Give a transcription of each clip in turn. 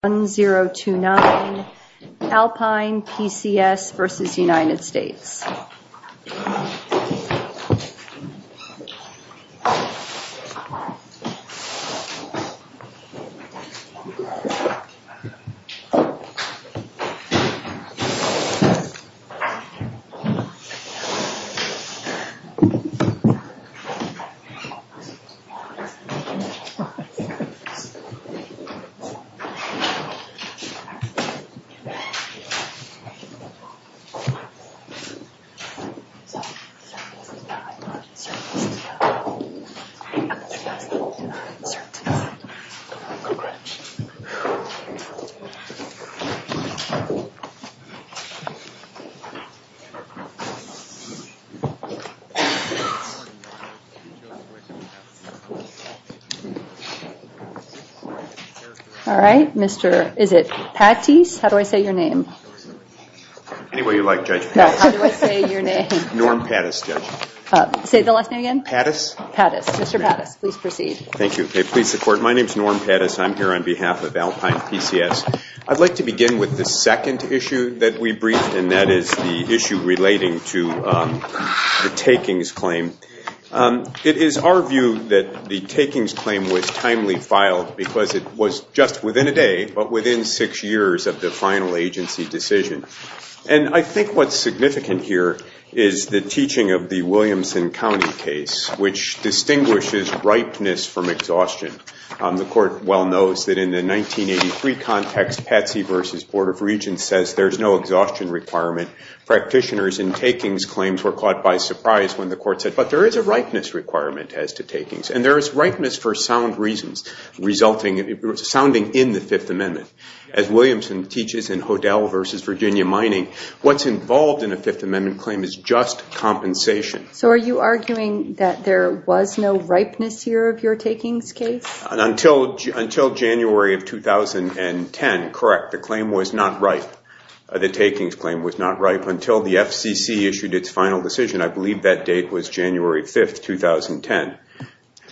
1029, Alpine, PCS versus United States. I'd like to begin with the second issue that we briefed, and that is the issue relating to the takings claim. It is our view that the takings claim was timely filed because it was just within a day but within six years of the final agency decision. And I think what's significant here is the teaching of the Williamson County case, which distinguishes ripeness from exhaustion. The court well knows that in the 1983 context, Patsy v. Board of Regents says there's no exhaustion requirement. Practitioners in takings claims were caught by surprise when the court said, but there is a ripeness requirement as to takings. And there is ripeness for sound reasons, sounding in the Fifth Amendment. As Williamson teaches in Hodel versus Virginia Mining, what's involved in a Fifth Amendment claim is just compensation. So are you arguing that there was no ripeness here of your takings case? Until January of 2010, correct. The claim was not ripe. The takings claim was not ripe until the FCC issued its final decision. I believe that date was January 5th, 2010.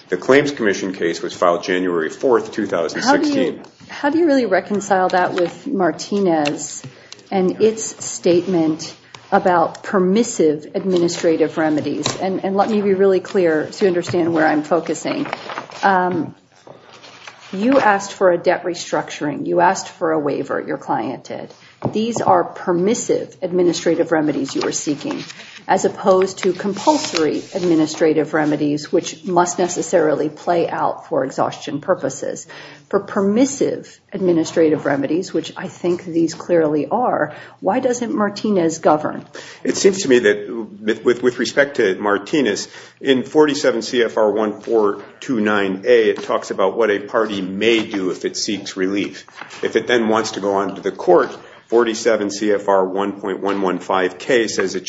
The claims commission case was filed January 4th, 2016. How do you really reconcile that with Martinez and its statement about permissive administrative remedies? And let me be really clear to understand where I'm focusing. You asked for a debt restructuring. You asked for a waiver. Your client did. These are permissive administrative remedies you are seeking, as opposed to compulsory administrative remedies, which must necessarily play out for exhaustion purposes. For permissive administrative remedies, which I think these clearly are, why doesn't Martinez govern? It seems to me that with respect to Martinez, in 47 CFR 1429A, it talks about what a party may do if it seeks relief. If it then wants to go on to the court, 47 CFR 1.115K says that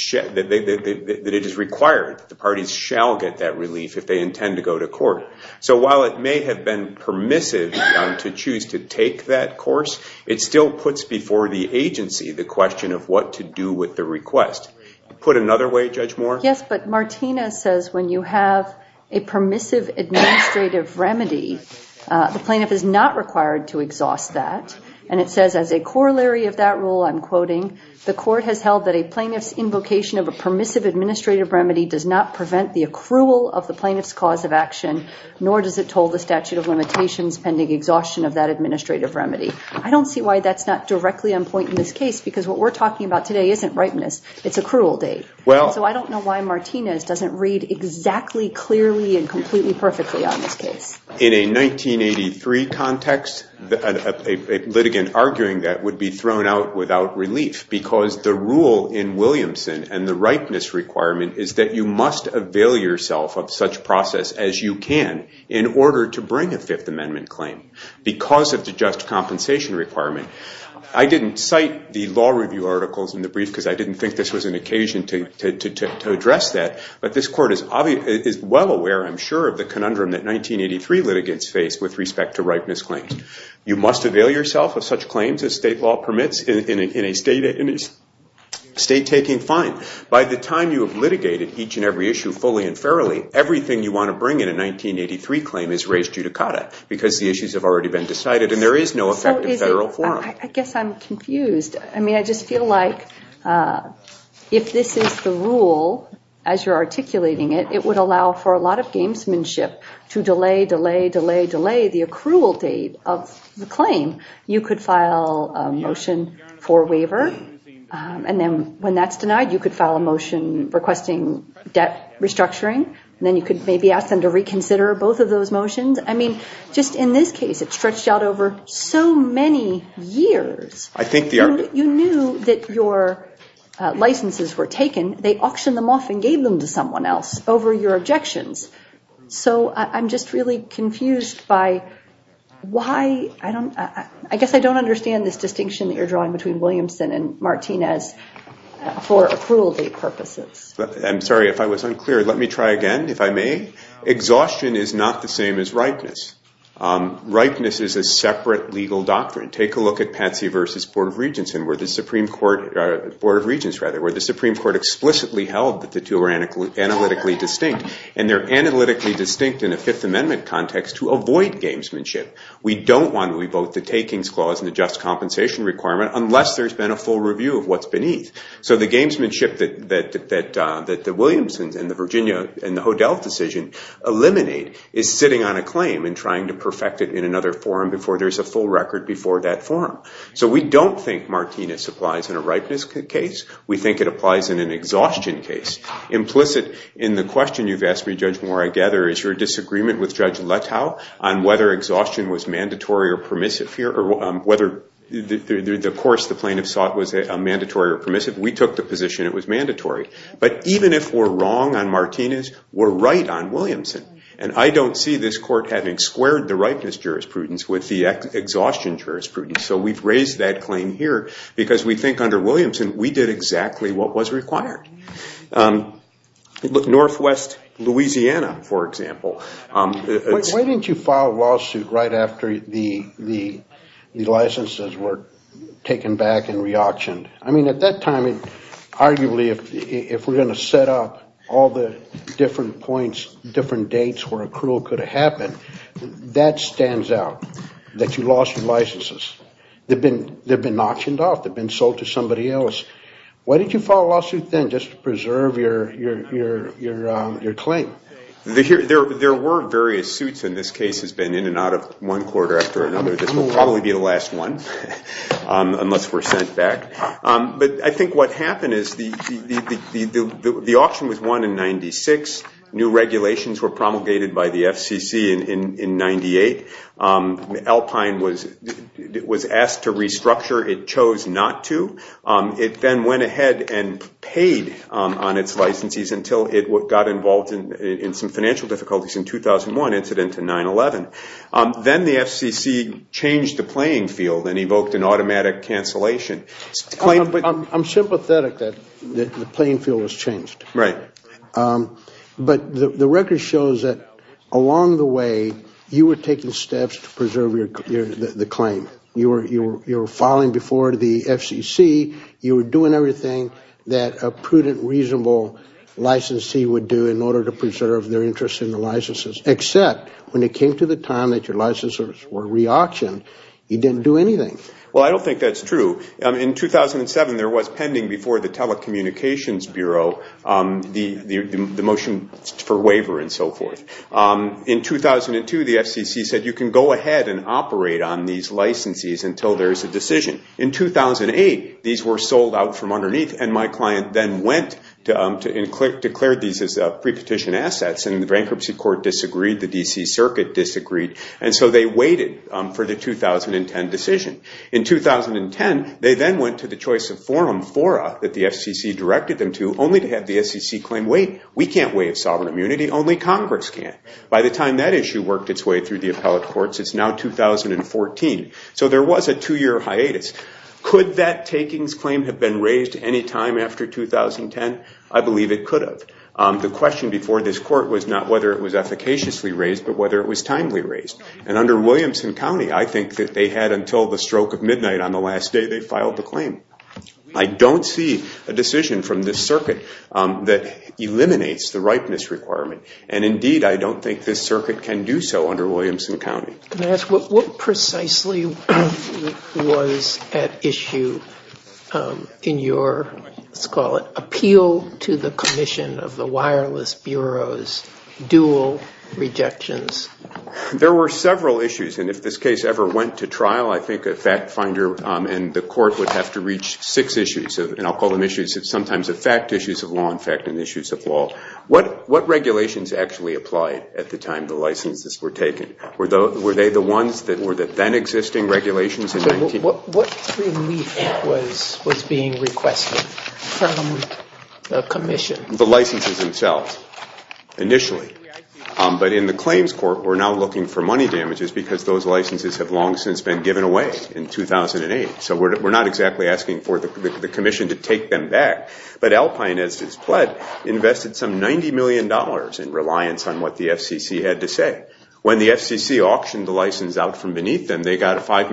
it is required that the parties shall get that relief if they intend to go to court. So while it may have been permissive to choose to take that course, it still puts before the agency the question of what to do with the request. Put another way, Judge Moore? Yes, but Martinez says when you have a permissive administrative remedy, the plaintiff is not required to exhaust that. And it says as a corollary of that rule, I'm quoting, the court has held that a plaintiff's invocation of a permissive administrative remedy does not prevent the accrual of the plaintiff's cause of action, nor does it toll the statute of limitations pending exhaustion of that administrative remedy. I don't see why that's not directly on point in this case, because what we're talking about today isn't ripeness. It's accrual date. So I don't know why Martinez doesn't read exactly clearly and completely perfectly on this case. In a 1983 context, a litigant arguing that would be thrown out without relief, because the rule in Williamson and the ripeness requirement is that you must avail yourself of such process as you can in order to bring a Fifth Amendment claim, because of the just compensation requirement. I didn't cite the law review articles in the brief, because I didn't think this was an to address that. But this court is well aware, I'm sure, of the conundrum that 1983 litigants faced with respect to ripeness claims. You must avail yourself of such claims as state law permits in a state taking fine. By the time you have litigated each and every issue fully and fairly, everything you want to bring in a 1983 claim is res judicata, because the issues have already been decided and there is no effective federal forum. I guess I'm confused. I mean, I just feel like if this is the rule as you're articulating it, it would allow for a lot of gamesmanship to delay, delay, delay, delay the accrual date of the claim. You could file a motion for waiver, and then when that's denied, you could file a motion requesting debt restructuring, and then you could maybe ask them to reconsider both of those motions. I mean, just in this case, it stretched out over so many years. You knew that your licenses were taken. They auctioned them off and gave them to someone else over your objections. So I'm just really confused by why, I guess I don't understand this distinction that you're drawing between Williamson and Martinez for accrual date purposes. I'm sorry if I was unclear. Let me try again, if I may. Exhaustion is not the same as ripeness. Ripeness is a separate legal doctrine. Take a look at Patsy v. Board of Regents, where the Supreme Court explicitly held that the two are analytically distinct, and they're analytically distinct in a Fifth Amendment context to avoid gamesmanship. We don't want to revoke the takings clause and the just compensation requirement unless there's been a full review of what's beneath. So the gamesmanship that the Williamsons and the Virginia and the Hodel decision eliminate is sitting on a claim and trying to perfect it in another forum before there's a full record before that forum. So we don't think Martinez applies in a ripeness case. We think it applies in an exhaustion case. Implicit in the question you've asked me, Judge Moore, I gather, is your disagreement with Judge Letow on whether exhaustion was mandatory or permissive here, or whether the course the plaintiff sought was mandatory or permissive. We took the position it was mandatory. But even if we're wrong on Martinez, we're right on Williamson. And I don't see this court having squared the ripeness jurisprudence with the exhaustion jurisprudence. So we've raised that claim here because we think under Williamson, we did exactly what was required. Northwest Louisiana, for example. Why didn't you file a lawsuit right after the licenses were taken back and re-auctioned? I mean, at that time, arguably, if we're going to set up all the different points, different dates where accrual could have happened, that stands out, that you lost your licenses. They've been auctioned off. They've been sold to somebody else. Why didn't you file a lawsuit then, just to preserve your claim? There were various suits in this case, has been in and out of one court after another. This will probably be the last one, unless we're sent back. But I think what happened is the auction was won in 96. New regulations were promulgated by the FCC in 98. Alpine was asked to restructure. It chose not to. It then went ahead and paid on its licenses until it got involved in some financial difficulties in 2001, incident in 9-11. Then the FCC changed the playing field and evoked an automatic cancellation. I'm sympathetic that the playing field was changed. But the record shows that along the way, you were taking steps to preserve the claim. You were filing before the FCC. You were doing everything that a prudent, reasonable licensee would do in order to preserve their interest in the licenses, except when it came to the time that your licenses were re-auctioned, you didn't do anything. Well, I don't think that's true. In 2007, there was pending before the Telecommunications Bureau the motion for waiver and so forth. In 2002, the FCC said you can go ahead and operate on these licensees until there's a decision. In 2008, these were sold out from underneath, and my client then went and declared these as pre-petition assets, and the bankruptcy court disagreed, the D.C. Circuit disagreed, and so they waited for the 2010 decision. In 2010, they then went to the choice of forum, FORA, that the FCC directed them to, only to have the FCC claim, wait, we can't waive sovereign immunity, only Congress can. By the time that issue worked its way through the appellate courts, it's now 2014. So there was a two-year hiatus. Could that takings claim have been raised any time after 2010? I believe it could have. The question before this court was not whether it was efficaciously raised, but whether it was timely raised. And under Williamson County, I think that they had until the stroke of midnight on the last day they filed the claim. I don't see a decision from this circuit that eliminates the ripeness requirement, and indeed, I don't think this circuit can do so under Williamson County. Can I ask, what precisely was at issue in your, let's call it, appeal to the commission of the Wireless Bureau's dual rejections? There were several issues, and if this case ever went to trial, I think a fact finder and the court would have to reach six issues, and I'll call them issues sometimes of fact, issues of law, in fact, and issues of law. What regulations actually applied at the time the licenses were taken? Were they the ones that were the then-existing regulations? What relief was being requested from the commission? The licenses themselves, initially. But in the claims court, we're now looking for money damages because those licenses have long since been given away in 2008. So we're not exactly asking for the commission to take them back. But Alpine, as is pled, invested some $90 million in reliance on what the FCC had to say. When the FCC auctioned the license out from beneath them, they got a $5.3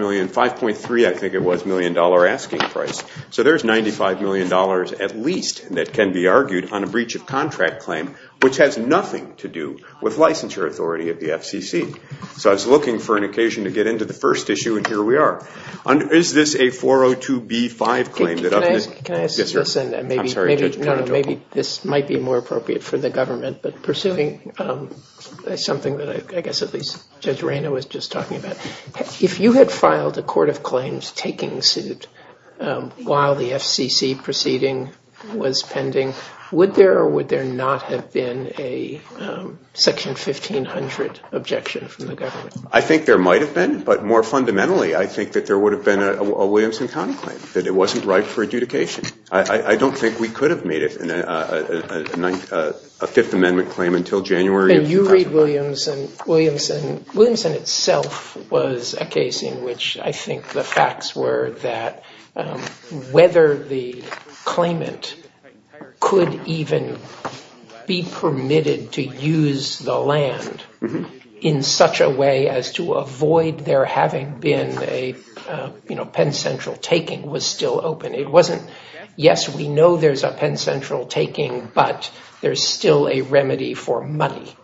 million asking price. So there's $95 million, at least, that can be argued on a breach of contract claim, which has nothing to do with licensure authority of the FCC. So I was looking for an occasion to get into the first issue, and here we are. Is this a 402B5 claim? Can I ask this, and maybe this might be more appropriate for the government, but pursuing something that I guess at least Judge Reyna was just talking about. If you had filed a court of claims taking suit while the FCC proceeding was pending, would there or would there not have been a section 1500 objection from the government? I think there might have been. But more fundamentally, I think that there would have been a Williamson County claim, that it wasn't right for adjudication. I don't think we could have made it a Fifth Amendment claim until January of 2001. And you read Williamson. Williamson itself was a case in which I think the facts were that whether the claimant could even be permitted to use the land in such a way as to avoid there having been a Penn Central taking was still open. It wasn't, yes, we know there's a Penn Central taking, but there's still a remedy for money.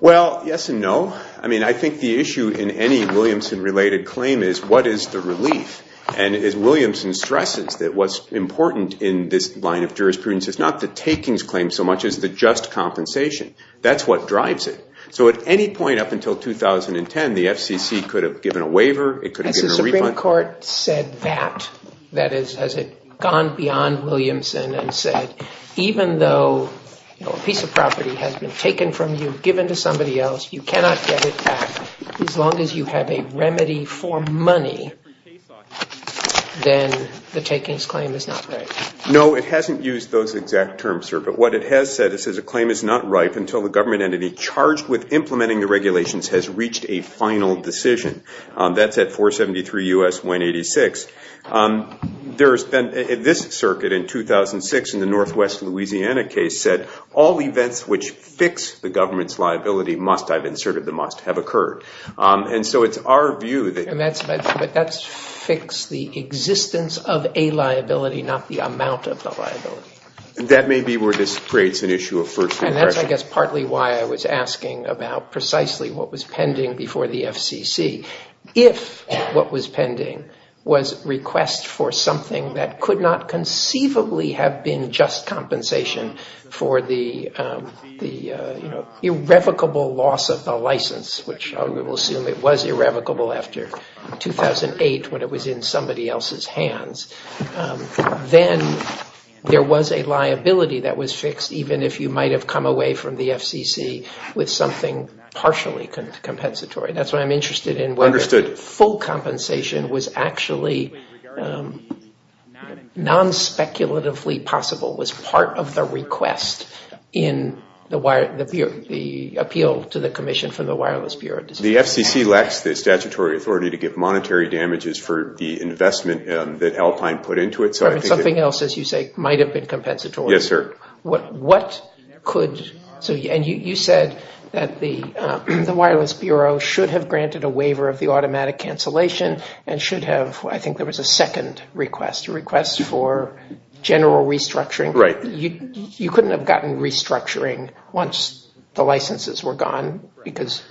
Well, yes and no. I mean, I think the issue in any Williamson-related claim is what is the relief? And as Williamson stresses, that what's important in this line of jurisprudence is not the takings claim so much as the just compensation. That's what drives it. So at any point up until 2010, the FCC could have given a waiver. It could have given a refund. The Supreme Court said that. That is, has it gone beyond Williamson and said, even though a piece of property has been taken from you, given to somebody else, you cannot get it back, as long as you have a remedy for money, then the takings claim is not right. No, it hasn't used those exact terms, sir. But what it has said, it says a claim is not right until the government entity charged with implementing the regulations has reached a final decision. That's at 473 U.S. 186. There's been, this circuit in 2006 in the Northwest Louisiana case said, all events which fix the government's liability must, I've inserted the must, have occurred. And so it's our view that. And that's fixed the existence of a liability, not the amount of the liability. That may be where this creates an issue of first impression. And that's, I guess, partly why I was asking about precisely what was pending before the FCC. If what was pending was request for something that could not conceivably have been just compensation for the, you know, irrevocable loss of the license, which we will assume it was irrevocable after 2008 when it was in somebody else's hands, then there was a liability that was fixed even if you might have come away from the FCC with something partially compensatory. That's why I'm interested in whether full compensation was actually non-speculatively possible, was part of the request in the appeal to the commission from the Wireless Bureau of Dispatch. The FCC lacks the statutory authority to give monetary damages for the investment that Alpine put into it. So I think it. Something else, as you say, might have been compensatory. Yes, sir. What could, and you said that the Wireless Bureau should have granted a waiver of the automatic cancellation and should have, I think there was a second request, a request for general restructuring. Right. You couldn't have gotten restructuring once the licenses were gone because.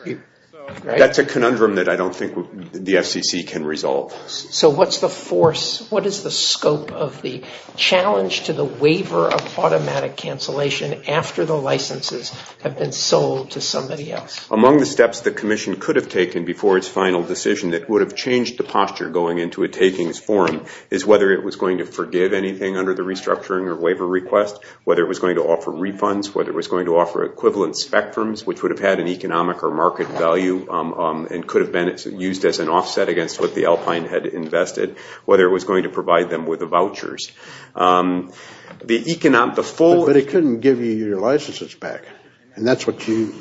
That's a conundrum that I don't think the FCC can resolve. So what's the force, what is the scope of the challenge to the waiver of automatic cancellation after the licenses have been sold to somebody else? Among the steps the commission could have taken before its final decision that would have changed the posture going into a takings form is whether it was going to forgive anything under the restructuring or waiver request, whether it was going to offer refunds, whether it was going to offer equivalent spectrums, which would have had an economic or market value and could have been used as an offset against what the Alpine had invested, whether it was going to provide them with vouchers. The economic, the full. But it couldn't give you your licenses back and that's what you,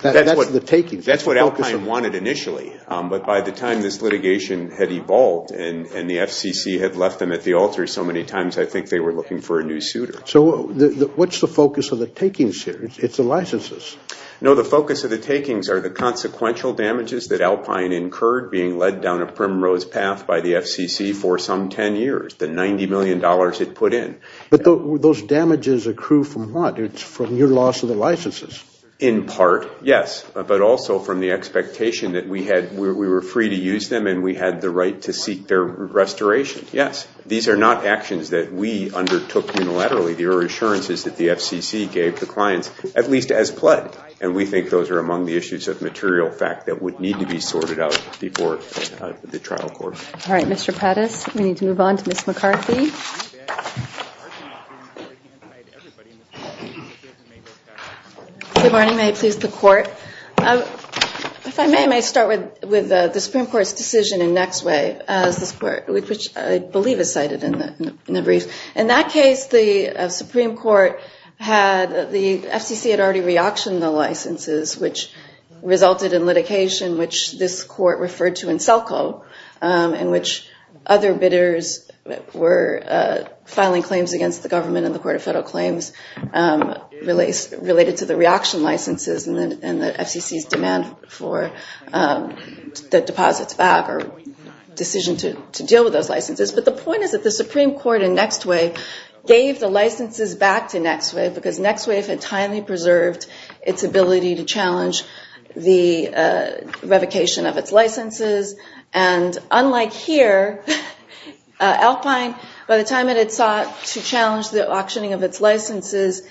that's the takings. That's what Alpine wanted initially, but by the time this litigation had evolved and the FCC had left them at the altar so many times, I think they were looking for a new suitor. So what's the focus of the takings here? It's the licenses. No, the focus of the takings are the consequential damages that Alpine incurred being led down a primrose path by the FCC for some 10 years, the $90 million it put in. But those damages accrue from what? It's from your loss of the licenses. In part, yes, but also from the expectation that we had, we were free to use them and we had the right to seek their restoration, yes. These are not actions that we undertook unilaterally. The reassurance is that the FCC gave the clients, at least as pledged, and we think those are among the issues of material fact that would need to be sorted out before the trial court. All right, Mr. Pattis, we need to move on to Ms. McCarthy. Good morning, may it please the court. If I may, I may start with the Supreme Court's decision in Nextway, which I believe is cited in the brief. In that case, the Supreme Court had, the FCC had already re-auctioned the licenses, which resulted in litigation, which this court referred to in Selco, in which other bidders were filing claims against the government and the Court of Federal Claims related to the re-auction licenses and the FCC's demand for the deposits back or decision to deal with those licenses. But the point is that the Supreme Court in Nextway gave the licenses back to Nextway because Nextway had entirely preserved its ability to challenge the revocation of its licenses. And unlike here, Alpine, by the time it had sought to challenge the auctioning of its licenses,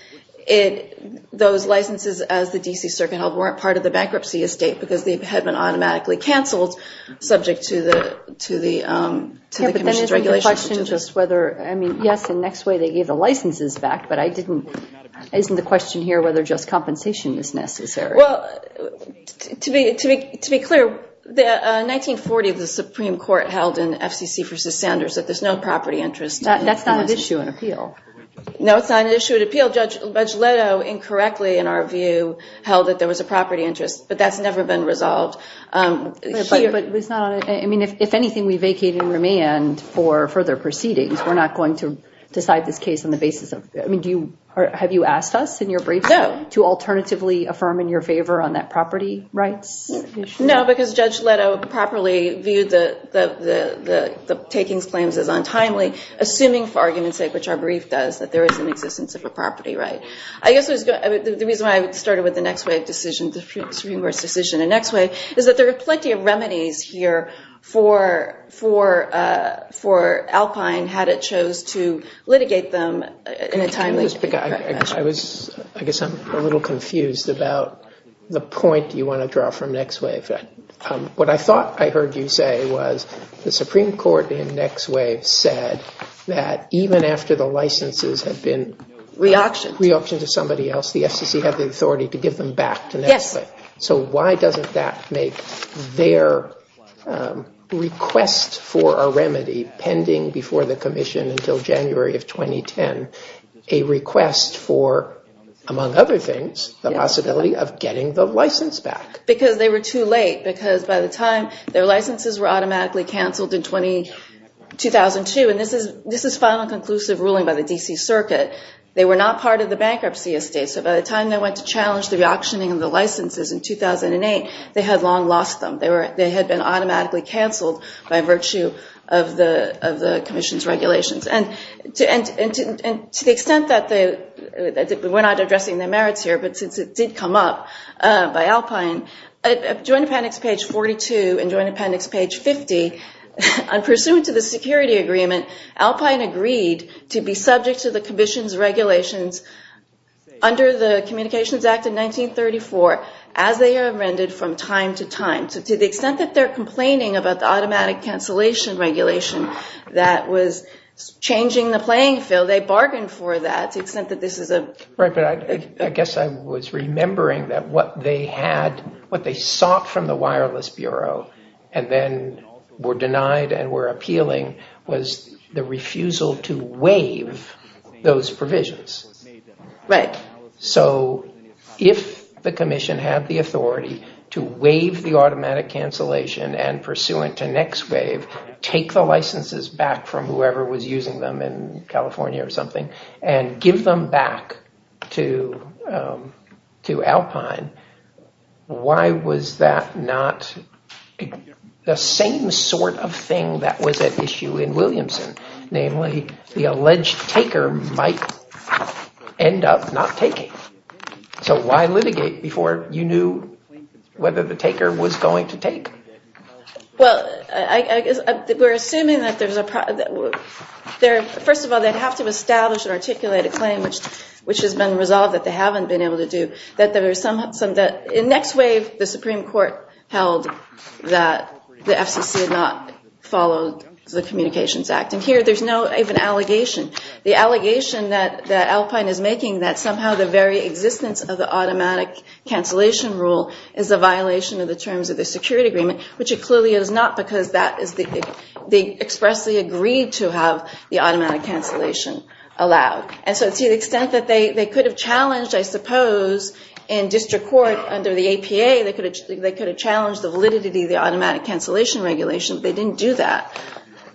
those licenses as the D.C. Circuit held weren't part of the bankruptcy estate because they had been automatically canceled subject to the commission's regulations. But then isn't the question just whether, I mean, yes, in Nextway they gave the licenses back, but I didn't, isn't the question here whether just compensation is necessary? Well, to be clear, in 1940, the Supreme Court held in FCC versus Sanders that there's no property interest. That's not an issue in appeal. No, it's not an issue in appeal. Judge Leto incorrectly, in our view, held that there was a property interest, but that's never been resolved here. But it's not, I mean, if anything, we vacate and remand for further proceedings. We're not going to decide this case on the basis of, I mean, do you, have you asked us in your briefs to alternatively affirm in your favor on that property rights issue? No, because Judge Leto properly viewed the takings claims as untimely, assuming for argument's sake, which our brief does, that there is an existence of a property right. I guess the reason why I started with the Nextwave decision, the Supreme Court's decision in Nextwave, is that there are plenty of remedies here for Alpine had it chose to litigate them in a timely fashion. I guess I'm a little confused about the point you want to draw from Nextwave. What I thought I heard you say was the Supreme Court in Nextwave said that even after the licenses had been reoptioned to somebody else, the FCC had the authority to give them back to Nextwave. So why doesn't that make their request for a remedy pending before the commission until January of 2010 a request for, among other things, the possibility of getting the license back? Because they were too late. Because by the time their licenses were automatically canceled in 2002, and this is final and conclusive ruling by the DC circuit, they were not part of the bankruptcy estate. So by the time they went to challenge the re-auctioning of the licenses in 2008, they had long lost them. They had been automatically canceled by virtue of the commission's regulations. And to the extent that we're not addressing the merits here, but since it did come up by Alpine, joint appendix page 42 and joint appendix page 50, in pursuant to the security agreement, Alpine agreed to be subject to the commission's regulations under the Communications Act of 1934 as they amended from time to time. So to the extent that they're complaining about the automatic cancellation regulation that was changing the playing field, they bargained for that to the extent that this is a... Right, but I guess I was remembering that what they had, what they sought from the Wireless Bureau and then were denied and were appealing was the refusal to waive those provisions. Right. So if the commission had the authority to waive the automatic cancellation and pursuant to next waive, take the licenses back from whoever was using them in California or something, and give them back to Alpine, why was that not the same sort of thing that was at issue in Williamson? Namely, the alleged taker might end up not taking. So why litigate before you knew whether the taker was going to take? Well, I guess we're assuming that there's a... First of all, they'd have to establish and articulate a claim which has been resolved that they haven't been able to do, that there was some... In next waive, the Supreme Court held that the FCC had not followed the Communications Act. And here, there's no even allegation. The allegation that Alpine is making that somehow the very existence of the automatic cancellation rule is a violation of the terms of the security agreement, which it clearly is not because they expressly agreed to have the automatic cancellation allowed. And so to the extent that they could have challenged, I suppose, in district court under the APA, they could have challenged the validity of the automatic cancellation regulation, but they didn't do that.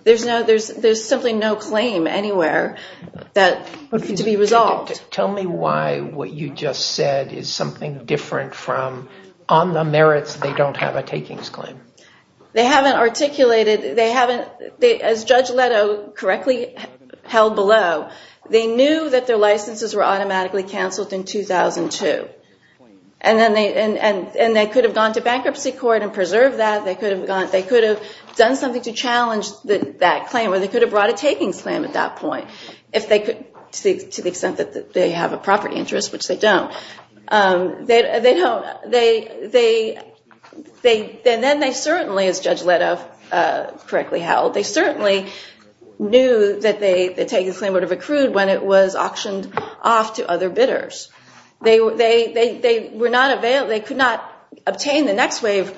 There's simply no claim anywhere to be resolved. Tell me why what you just said is something different from, on the merits, they don't have a takings claim. They haven't articulated, as Judge Leto correctly held below, they knew that their licenses were automatically canceled in 2002. And they could have gone to bankruptcy court and preserved that. They could have done something to challenge that claim, or they could have brought a takings claim at that point, if they could, to the extent that they have a property interest, which they don't. Then they certainly, as Judge Leto correctly held, they certainly knew that the takings claim would have accrued when it was auctioned off to other bidders. They could not obtain the next wave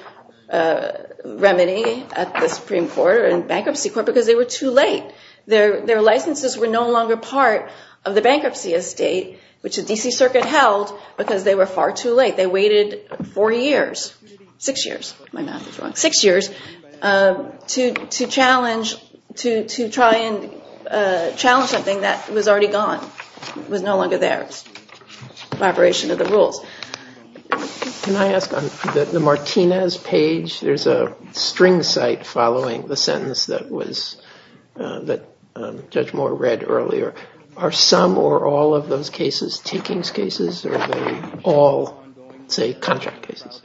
remedy at the Supreme Court or in bankruptcy court because they were too late. Their licenses were no longer part of the bankruptcy estate, which the D.C. Circuit held, because they were far too late. They waited four years, six years, my math is wrong, six years to try and challenge something that was already gone, was no longer there, a vibration of the rules. Can I ask, on the Martinez page, there's a string cite following the sentence that Judge Moore read earlier. Are some or all of those cases takings cases, or are they all, say, contract cases?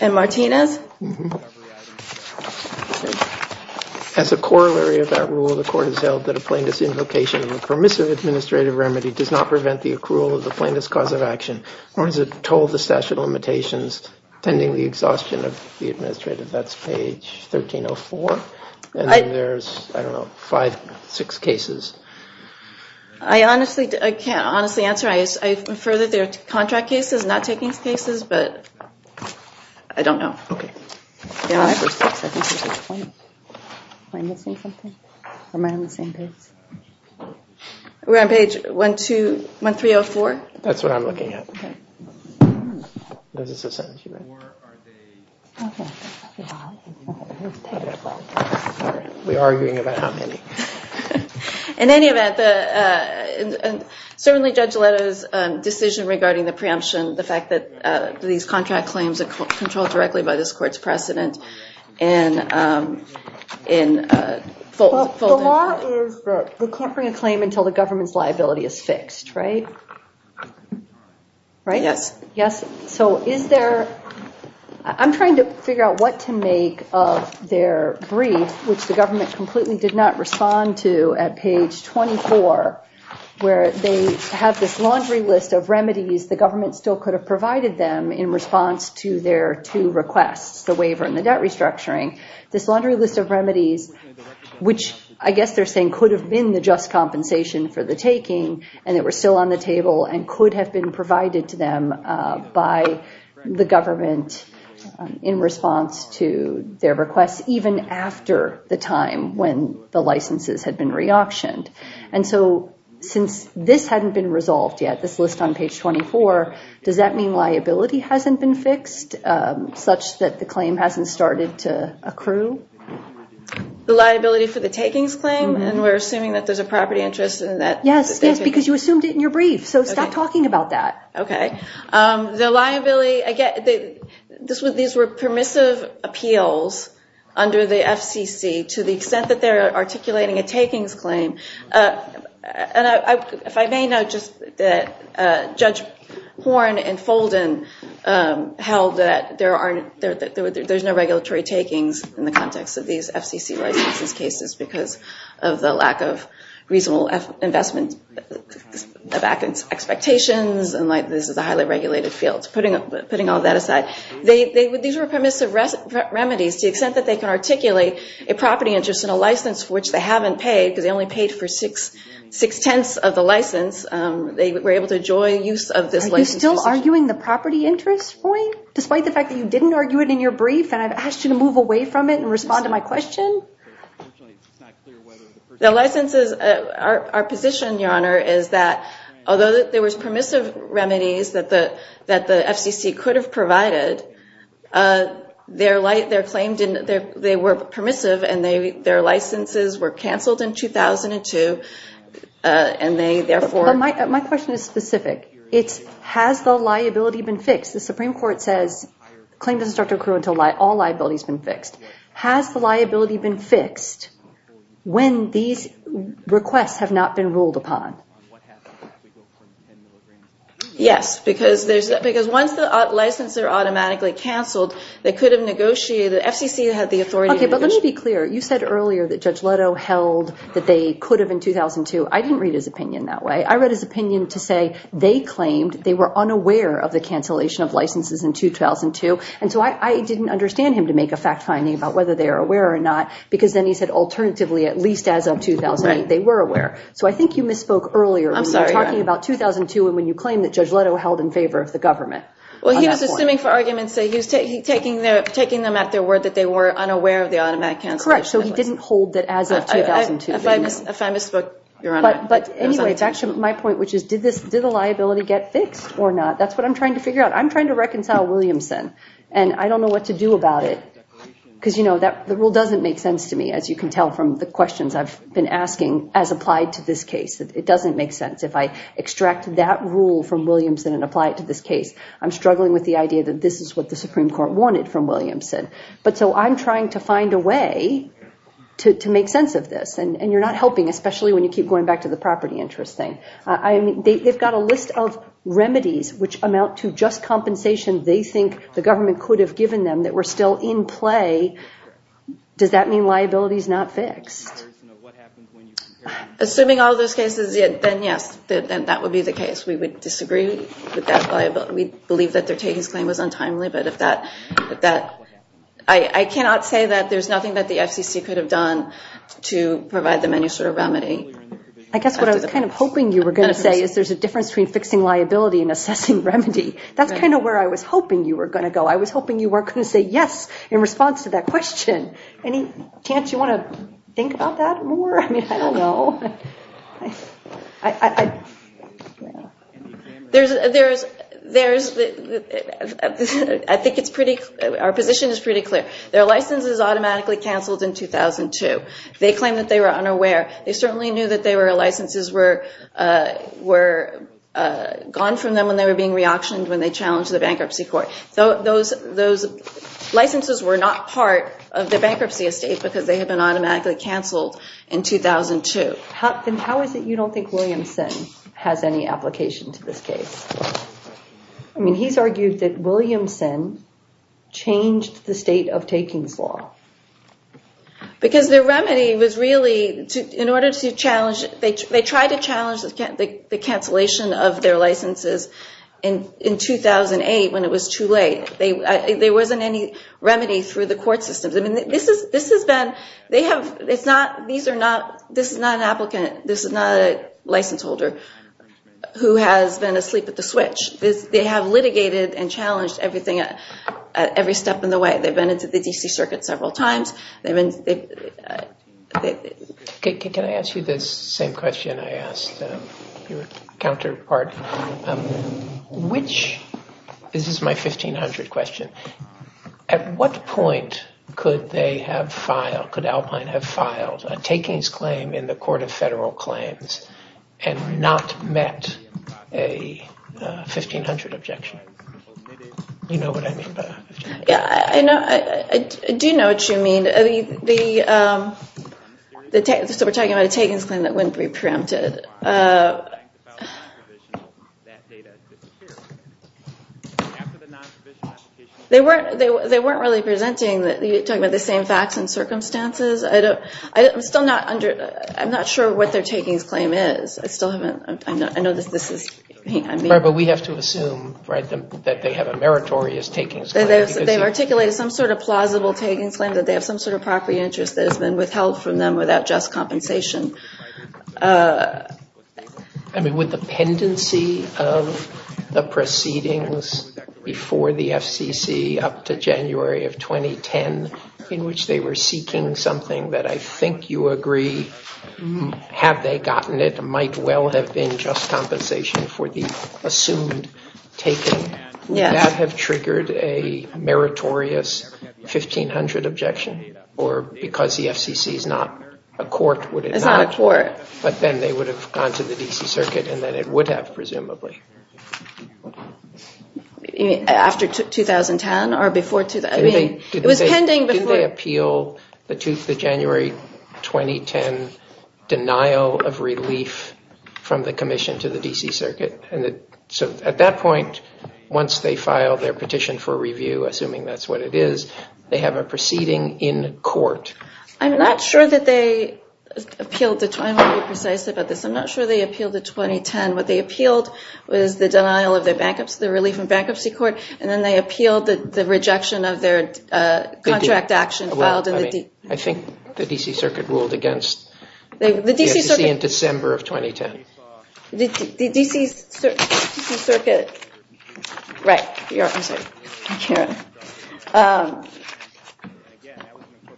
And Martinez? As a corollary of that rule, the court has held that a plaintiff's invocation of a permissive administrative remedy does not prevent the accrual of the plaintiff's cause of action, nor does it toll the statute of limitations pending the exhaustion of the administrative. That's page 1304. And then there's, I don't know, five, six cases. I honestly, I can't honestly answer. I infer that they're contract cases, not takings cases, but I don't know. OK. We're on page 12, 1304. That's what I'm looking at. There's a sentence you read. We're arguing about how many. In any event, certainly Judge Aleto's decision regarding the preemption, the fact that these contract claims are controlled directly by this court's precedent, and in full. The law is that the court can't bring a claim until the government's liability is fixed, right? Yes. Yes. So is there, I'm trying to figure out what to make of their brief, which the government completely did not respond to at page 24, where they have this laundry list of remedies the government still could have provided them in response to their two requests, the waiver and the debt restructuring. This laundry list of remedies, which I guess they're saying could have been the just compensation for the taking, and they were still on the table, and could have been provided to them by the government in response to their requests, even after the time when the licenses had been re-auctioned. And so since this hadn't been resolved yet, this list on page 24, does that mean liability hasn't been fixed, such that the claim hasn't started to accrue? The liability for the takings claim? And we're assuming that there's a property interest in that? Yes, yes, because you assumed it in your brief, so stop talking about that. OK. The liability, I get, these were permissive appeals under the FCC to the extent that they're articulating a takings claim. And if I may know, just that Judge Horne and Folden held that there's no regulatory takings in the context of these FCC licenses cases, because of the lack of reasonable investment of expectations, and this is a highly regulated field. Putting all that aside, these were permissive remedies to the extent that they can articulate a property interest in a license for which they haven't paid, because they only paid for six-tenths of the license. They were able to enjoy use of this license. You're still arguing the property interest point, despite the fact that you didn't argue it in your brief, and I've asked you to move away from it and respond to my question? The licenses, our position, Your Honor, is that, although there was permissive remedies that the FCC could have provided, their claim didn't, they were permissive, and their licenses were canceled in 2002, and they therefore. My question is specific. It's, has the liability been fixed? The Supreme Court says, claim doesn't start to accrue until all liability's been fixed. Has the liability been fixed when these requests have not been ruled upon? Yes, because once the licenses are automatically canceled, they could have negotiated, the FCC had the authority to negotiate. Okay, but let me be clear. You said earlier that Judge Leto held that they could have in 2002. I didn't read his opinion that way. I read his opinion to say, they claimed they were unaware of the cancellation of licenses in 2002, and so I didn't understand him to make a fact finding about whether they were aware or not, because then he said, alternatively, at least as of 2008, they were aware. So I think you misspoke earlier when you were talking about 2002 and when you claimed that Judge Leto held in favor of the government. Well, he was assuming for arguments that he was taking them at their word that they were unaware of the automatic cancellation. Correct, so he didn't hold that as of 2002. If I misspoke, Your Honor. But anyway, it's actually my point, which is, did the liability get fixed or not? That's what I'm trying to figure out. I'm trying to reconcile Williamson, and I don't know what to do about it, because the rule doesn't make sense to me, as you can tell from the questions I've been asking as applied to this case. It doesn't make sense. If I extract that rule from Williamson and apply it to this case, I'm struggling with the idea that this is what the Supreme Court wanted from Williamson. But so I'm trying to find a way to make sense of this, and you're not helping, especially when you keep going back to the property interest thing. They've got a list of remedies which amount to just compensation they think the government could have given them that were still in play. Does that mean liability is not fixed? Assuming all those cases, then yes, that would be the case. We would disagree with that liability. We believe that their taking his claim was untimely, but I cannot say that there's nothing that the FCC could have done to provide them any sort of remedy. I guess what I was kind of hoping you were going to say is there's a difference between fixing liability and assessing remedy. That's kind of where I was hoping you were going to go. I was hoping you weren't going to say yes in response to that question. Any chance you want to think about that more? I mean, I don't know. I think our position is pretty clear. Their license is automatically canceled in 2002. They claim that they were unaware. They certainly knew that their licenses were gone from them when they were being re-auctioned when they challenged the bankruptcy court. So those licenses were not part of the bankruptcy estate because they had been automatically canceled in 2002. How is it you don't think Williamson has any application to this case? I mean, he's argued that Williamson changed the state of takings law. Because their remedy was really, in order to challenge, they tried to challenge the cancellation of their licenses in 2008 when it was too late. There wasn't any remedy through the court systems. I mean, this has been, they have, it's not, these are not, this is not an applicant. This is not a license holder who has been asleep at the switch. They have litigated and challenged everything, every step in the way. They've been into the D.C. Circuit several times. Can I ask you this same question I asked your counterpart? This is my 1500 question. At what point could they have filed, could Alpine have filed a takings claim in the court of federal claims and not met a 1500 objection? Do you know what I mean by 1500? Yeah, I know, I do know what you mean. The, so we're talking about a takings claim that wouldn't be preempted. They weren't really presenting, talking about the same facts and circumstances. I don't, I'm still not under, I'm not sure what their takings claim is. I still haven't, I know that this is, I mean. Right, but we have to assume, right, that they have a meritorious takings claim. They've articulated some sort of plausible takings claim that they have some sort of property interest that has been withheld from them without just compensation. I mean, would the pendency of the proceedings before the FCC up to January of 2010 in which they were seeking something that I think you agree, have they gotten it, might well have been just compensation for the assumed taking, would that have triggered a meritorious 1500 objection? Or because the FCC is not a court, would it not? It's not a court. But then they would have gone to the DC circuit and then it would have, presumably. After 2010 or before, I mean, it was pending before. Did they appeal the January 2010 denial of relief from the commission to the DC circuit? And so at that point, once they filed their petition for review, assuming that's what it is, they have a proceeding in court. I'm not sure that they appealed, I want to be precise about this. I'm not sure they appealed to 2010. What they appealed was the denial of their relief in bankruptcy court and then they appealed the rejection of their contract action filed in the DC. I think the DC circuit ruled against the FCC in December of 2010. The DC circuit, right.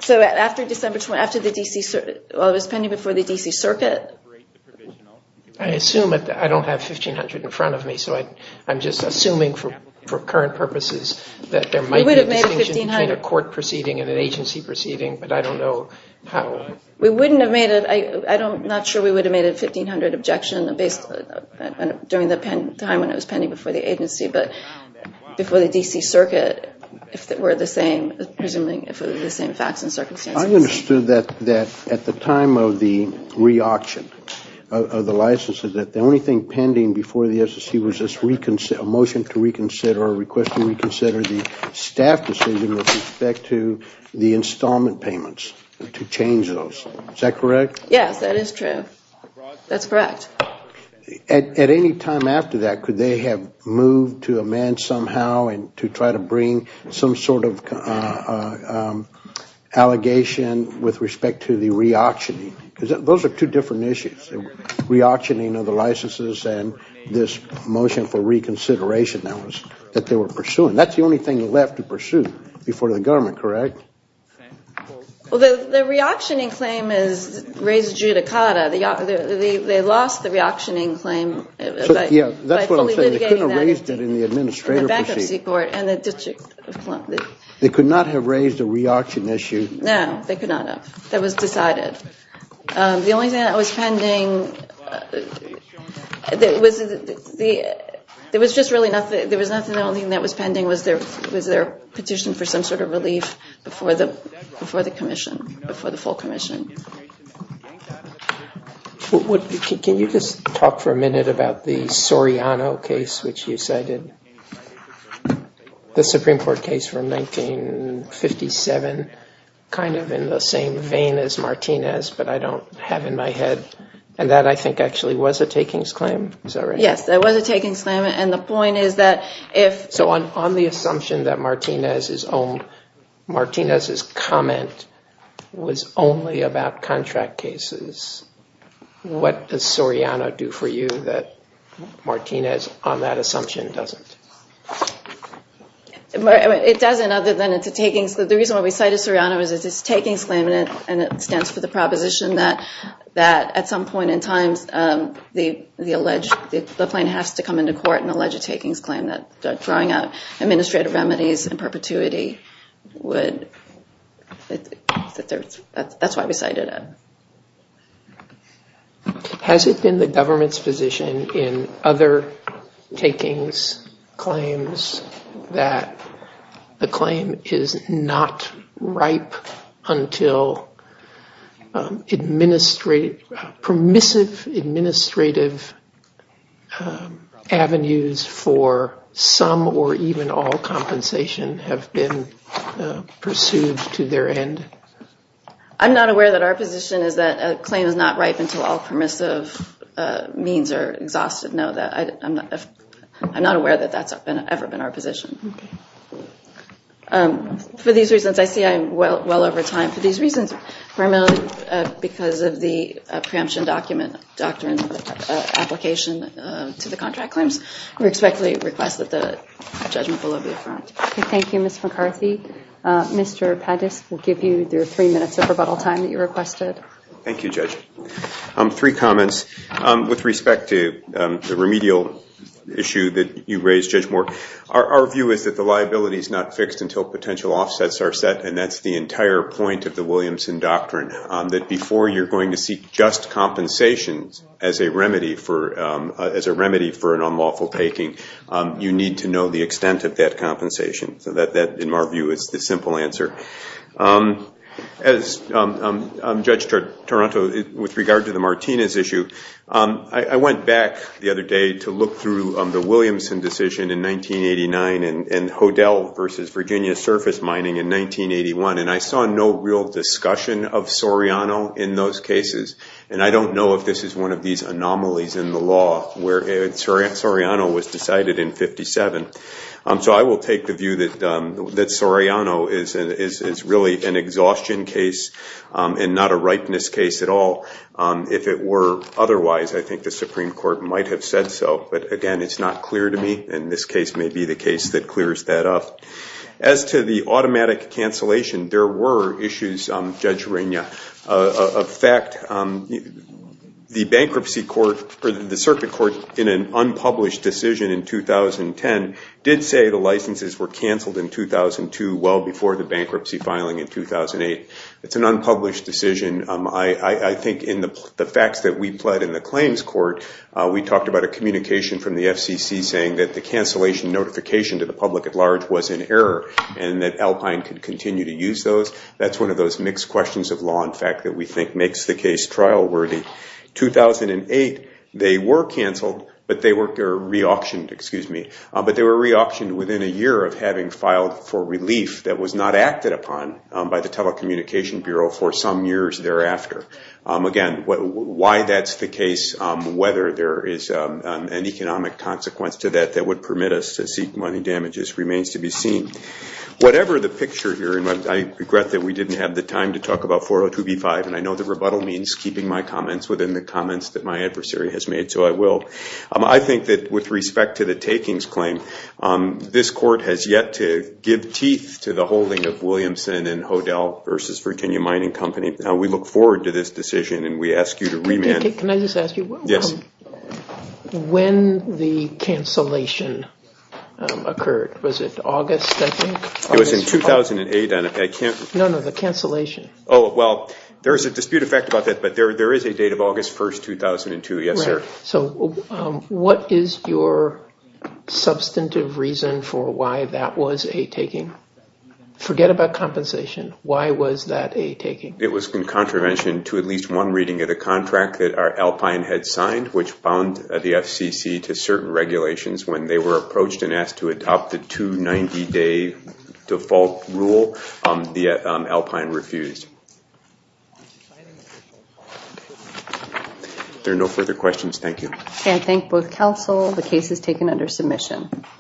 So after December, after the DC, well it was pending before the DC circuit. I assume, I don't have 1500 in front of me, so I'm just assuming for current purposes that there might be a distinction between a court proceeding and an agency proceeding, but I don't know how. We wouldn't have made it, I'm not sure we would have made a 1500 objection during the time when it was pending before the agency, but before the DC circuit if it were the same, presuming if it were the same facts and circumstances. I understood that at the time of the re-auction of the licenses that the only thing pending before the FCC was a motion to reconsider or a request to reconsider the staff decision with respect to the installment payments to change those. Is that correct? Yes, that is true. That's correct. At any time after that, could they have moved to amend somehow to try to bring some sort of allegation with respect to the re-auctioning? Those are two different issues, re-auctioning of the licenses and this motion for reconsideration that they were pursuing. That's the only thing left to pursue before the government, correct? Well, the re-auctioning claim is raised judicata. They lost the re-auctioning claim by fully litigating that in the back of the court and the district. They could not have raised a re-auction issue? No, they could not have. That was decided. The only thing that was pending was their petition for some sort of relief before the commission, before the full commission. Can you just talk for a minute about the Soriano case, which you cited? The Supreme Court case from 1957, kind of in the same vein as Martinez, but I don't have in my head. And that, I think, actually was a takings claim. Is that right? Yes, that was a takings claim. And the point is that if... So on the assumption that Martinez's comment was only about contract cases, what does Soriano do for you that Martinez, on that assumption, doesn't? It doesn't other than it's a takings... The reason why we cited Soriano is it's a takings claim and it stands for the proposition that at some point in time the plaintiff has to come into court and allege a takings claim that drawing out administrative remedies in perpetuity would... That's why we cited it. Has it been the government's position in other takings claims that the claim is not ripe until permissive administrative avenues for some or even all compensation have been pursued to their end? I'm not aware that our position is that a claim is not ripe until all permissive means are exhausted. No, I'm not aware that that's ever been our position. For these reasons, I see I'm well over time. For these reasons, primarily because of the preemption document doctrine application to the contract claims, we respectfully request that the judgment be affirmed. Thank you, Ms. McCarthy. Mr. Pettis, we'll give you your three minutes of rebuttal time that you requested. Thank you, Judge. Three comments with respect to the remedial issue that you raised, Judge Moore. Our view is that the liability is not fixed until potential offsets are set and that's the entire point of the Williamson doctrine, that before you're going to seek just compensations as a remedy for an unlawful taking, you need to know the extent of that compensation. So that, in our view, is the simple answer. As Judge Toronto, with regard to the Martinez issue, I went back the other day to look through the Williamson decision in 1989 and Hodel versus Virginia surface mining in 1981 and I saw no real discussion of Soriano in those cases and I don't know if this is one of these anomalies in the law where Soriano was decided in 1957. So I will take the view that Soriano is really an exhaustion case and not a ripeness case at all. If it were otherwise, I think the Supreme Court might have said so. But again, it's not clear to me and this case may be the case that clears that up. As to the automatic cancellation, there were issues, Judge Reina, of fact, the bankruptcy court, the circuit court in an unpublished decision in 2010 did say the licenses were cancelled in 2002 well before the bankruptcy filing in 2008. It's an unpublished decision. I think in the facts that we pled in the claims court, we talked about a communication from the FCC saying that the cancellation notification to the public at large was in error and that Alpine could continue to use those. That's one of those mixed questions of law in fact that we think makes the case trial worthy. 2008, they were cancelled, but they were re-auctioned within a year of having filed for relief that was not acted upon by the Telecommunication Bureau for some years thereafter. Again, why that's the case, whether there is an economic consequence to that that would permit us to seek money damages remains to be seen. Whatever the picture here, I regret that we didn't have the time to talk about 402b-5, and I know that rebuttal means keeping my comments within the comments that my adversary has made, so I will. I think that with respect to the takings claim, this court has yet to give teeth to the holding of Williamson and Hodel v. Virginia Mining Company. We look forward to this decision, and we ask you to remand. Can I just ask you, when the cancellation occurred? Was it August, I think? It was in 2008. No, no, the cancellation. Oh, well, there is a dispute effect about that, but there is a date of August 1, 2002. Yes, sir. So what is your substantive reason for why that was a taking? Forget about compensation. Why was that a taking? It was in contravention to at least one reading of the contract that Alpine had signed, which bound the FCC to certain regulations when they were approached and asked to adopt the 290-day default rule. The Alpine refused. If there are no further questions, thank you. I thank both counsel. The case is taken under submission.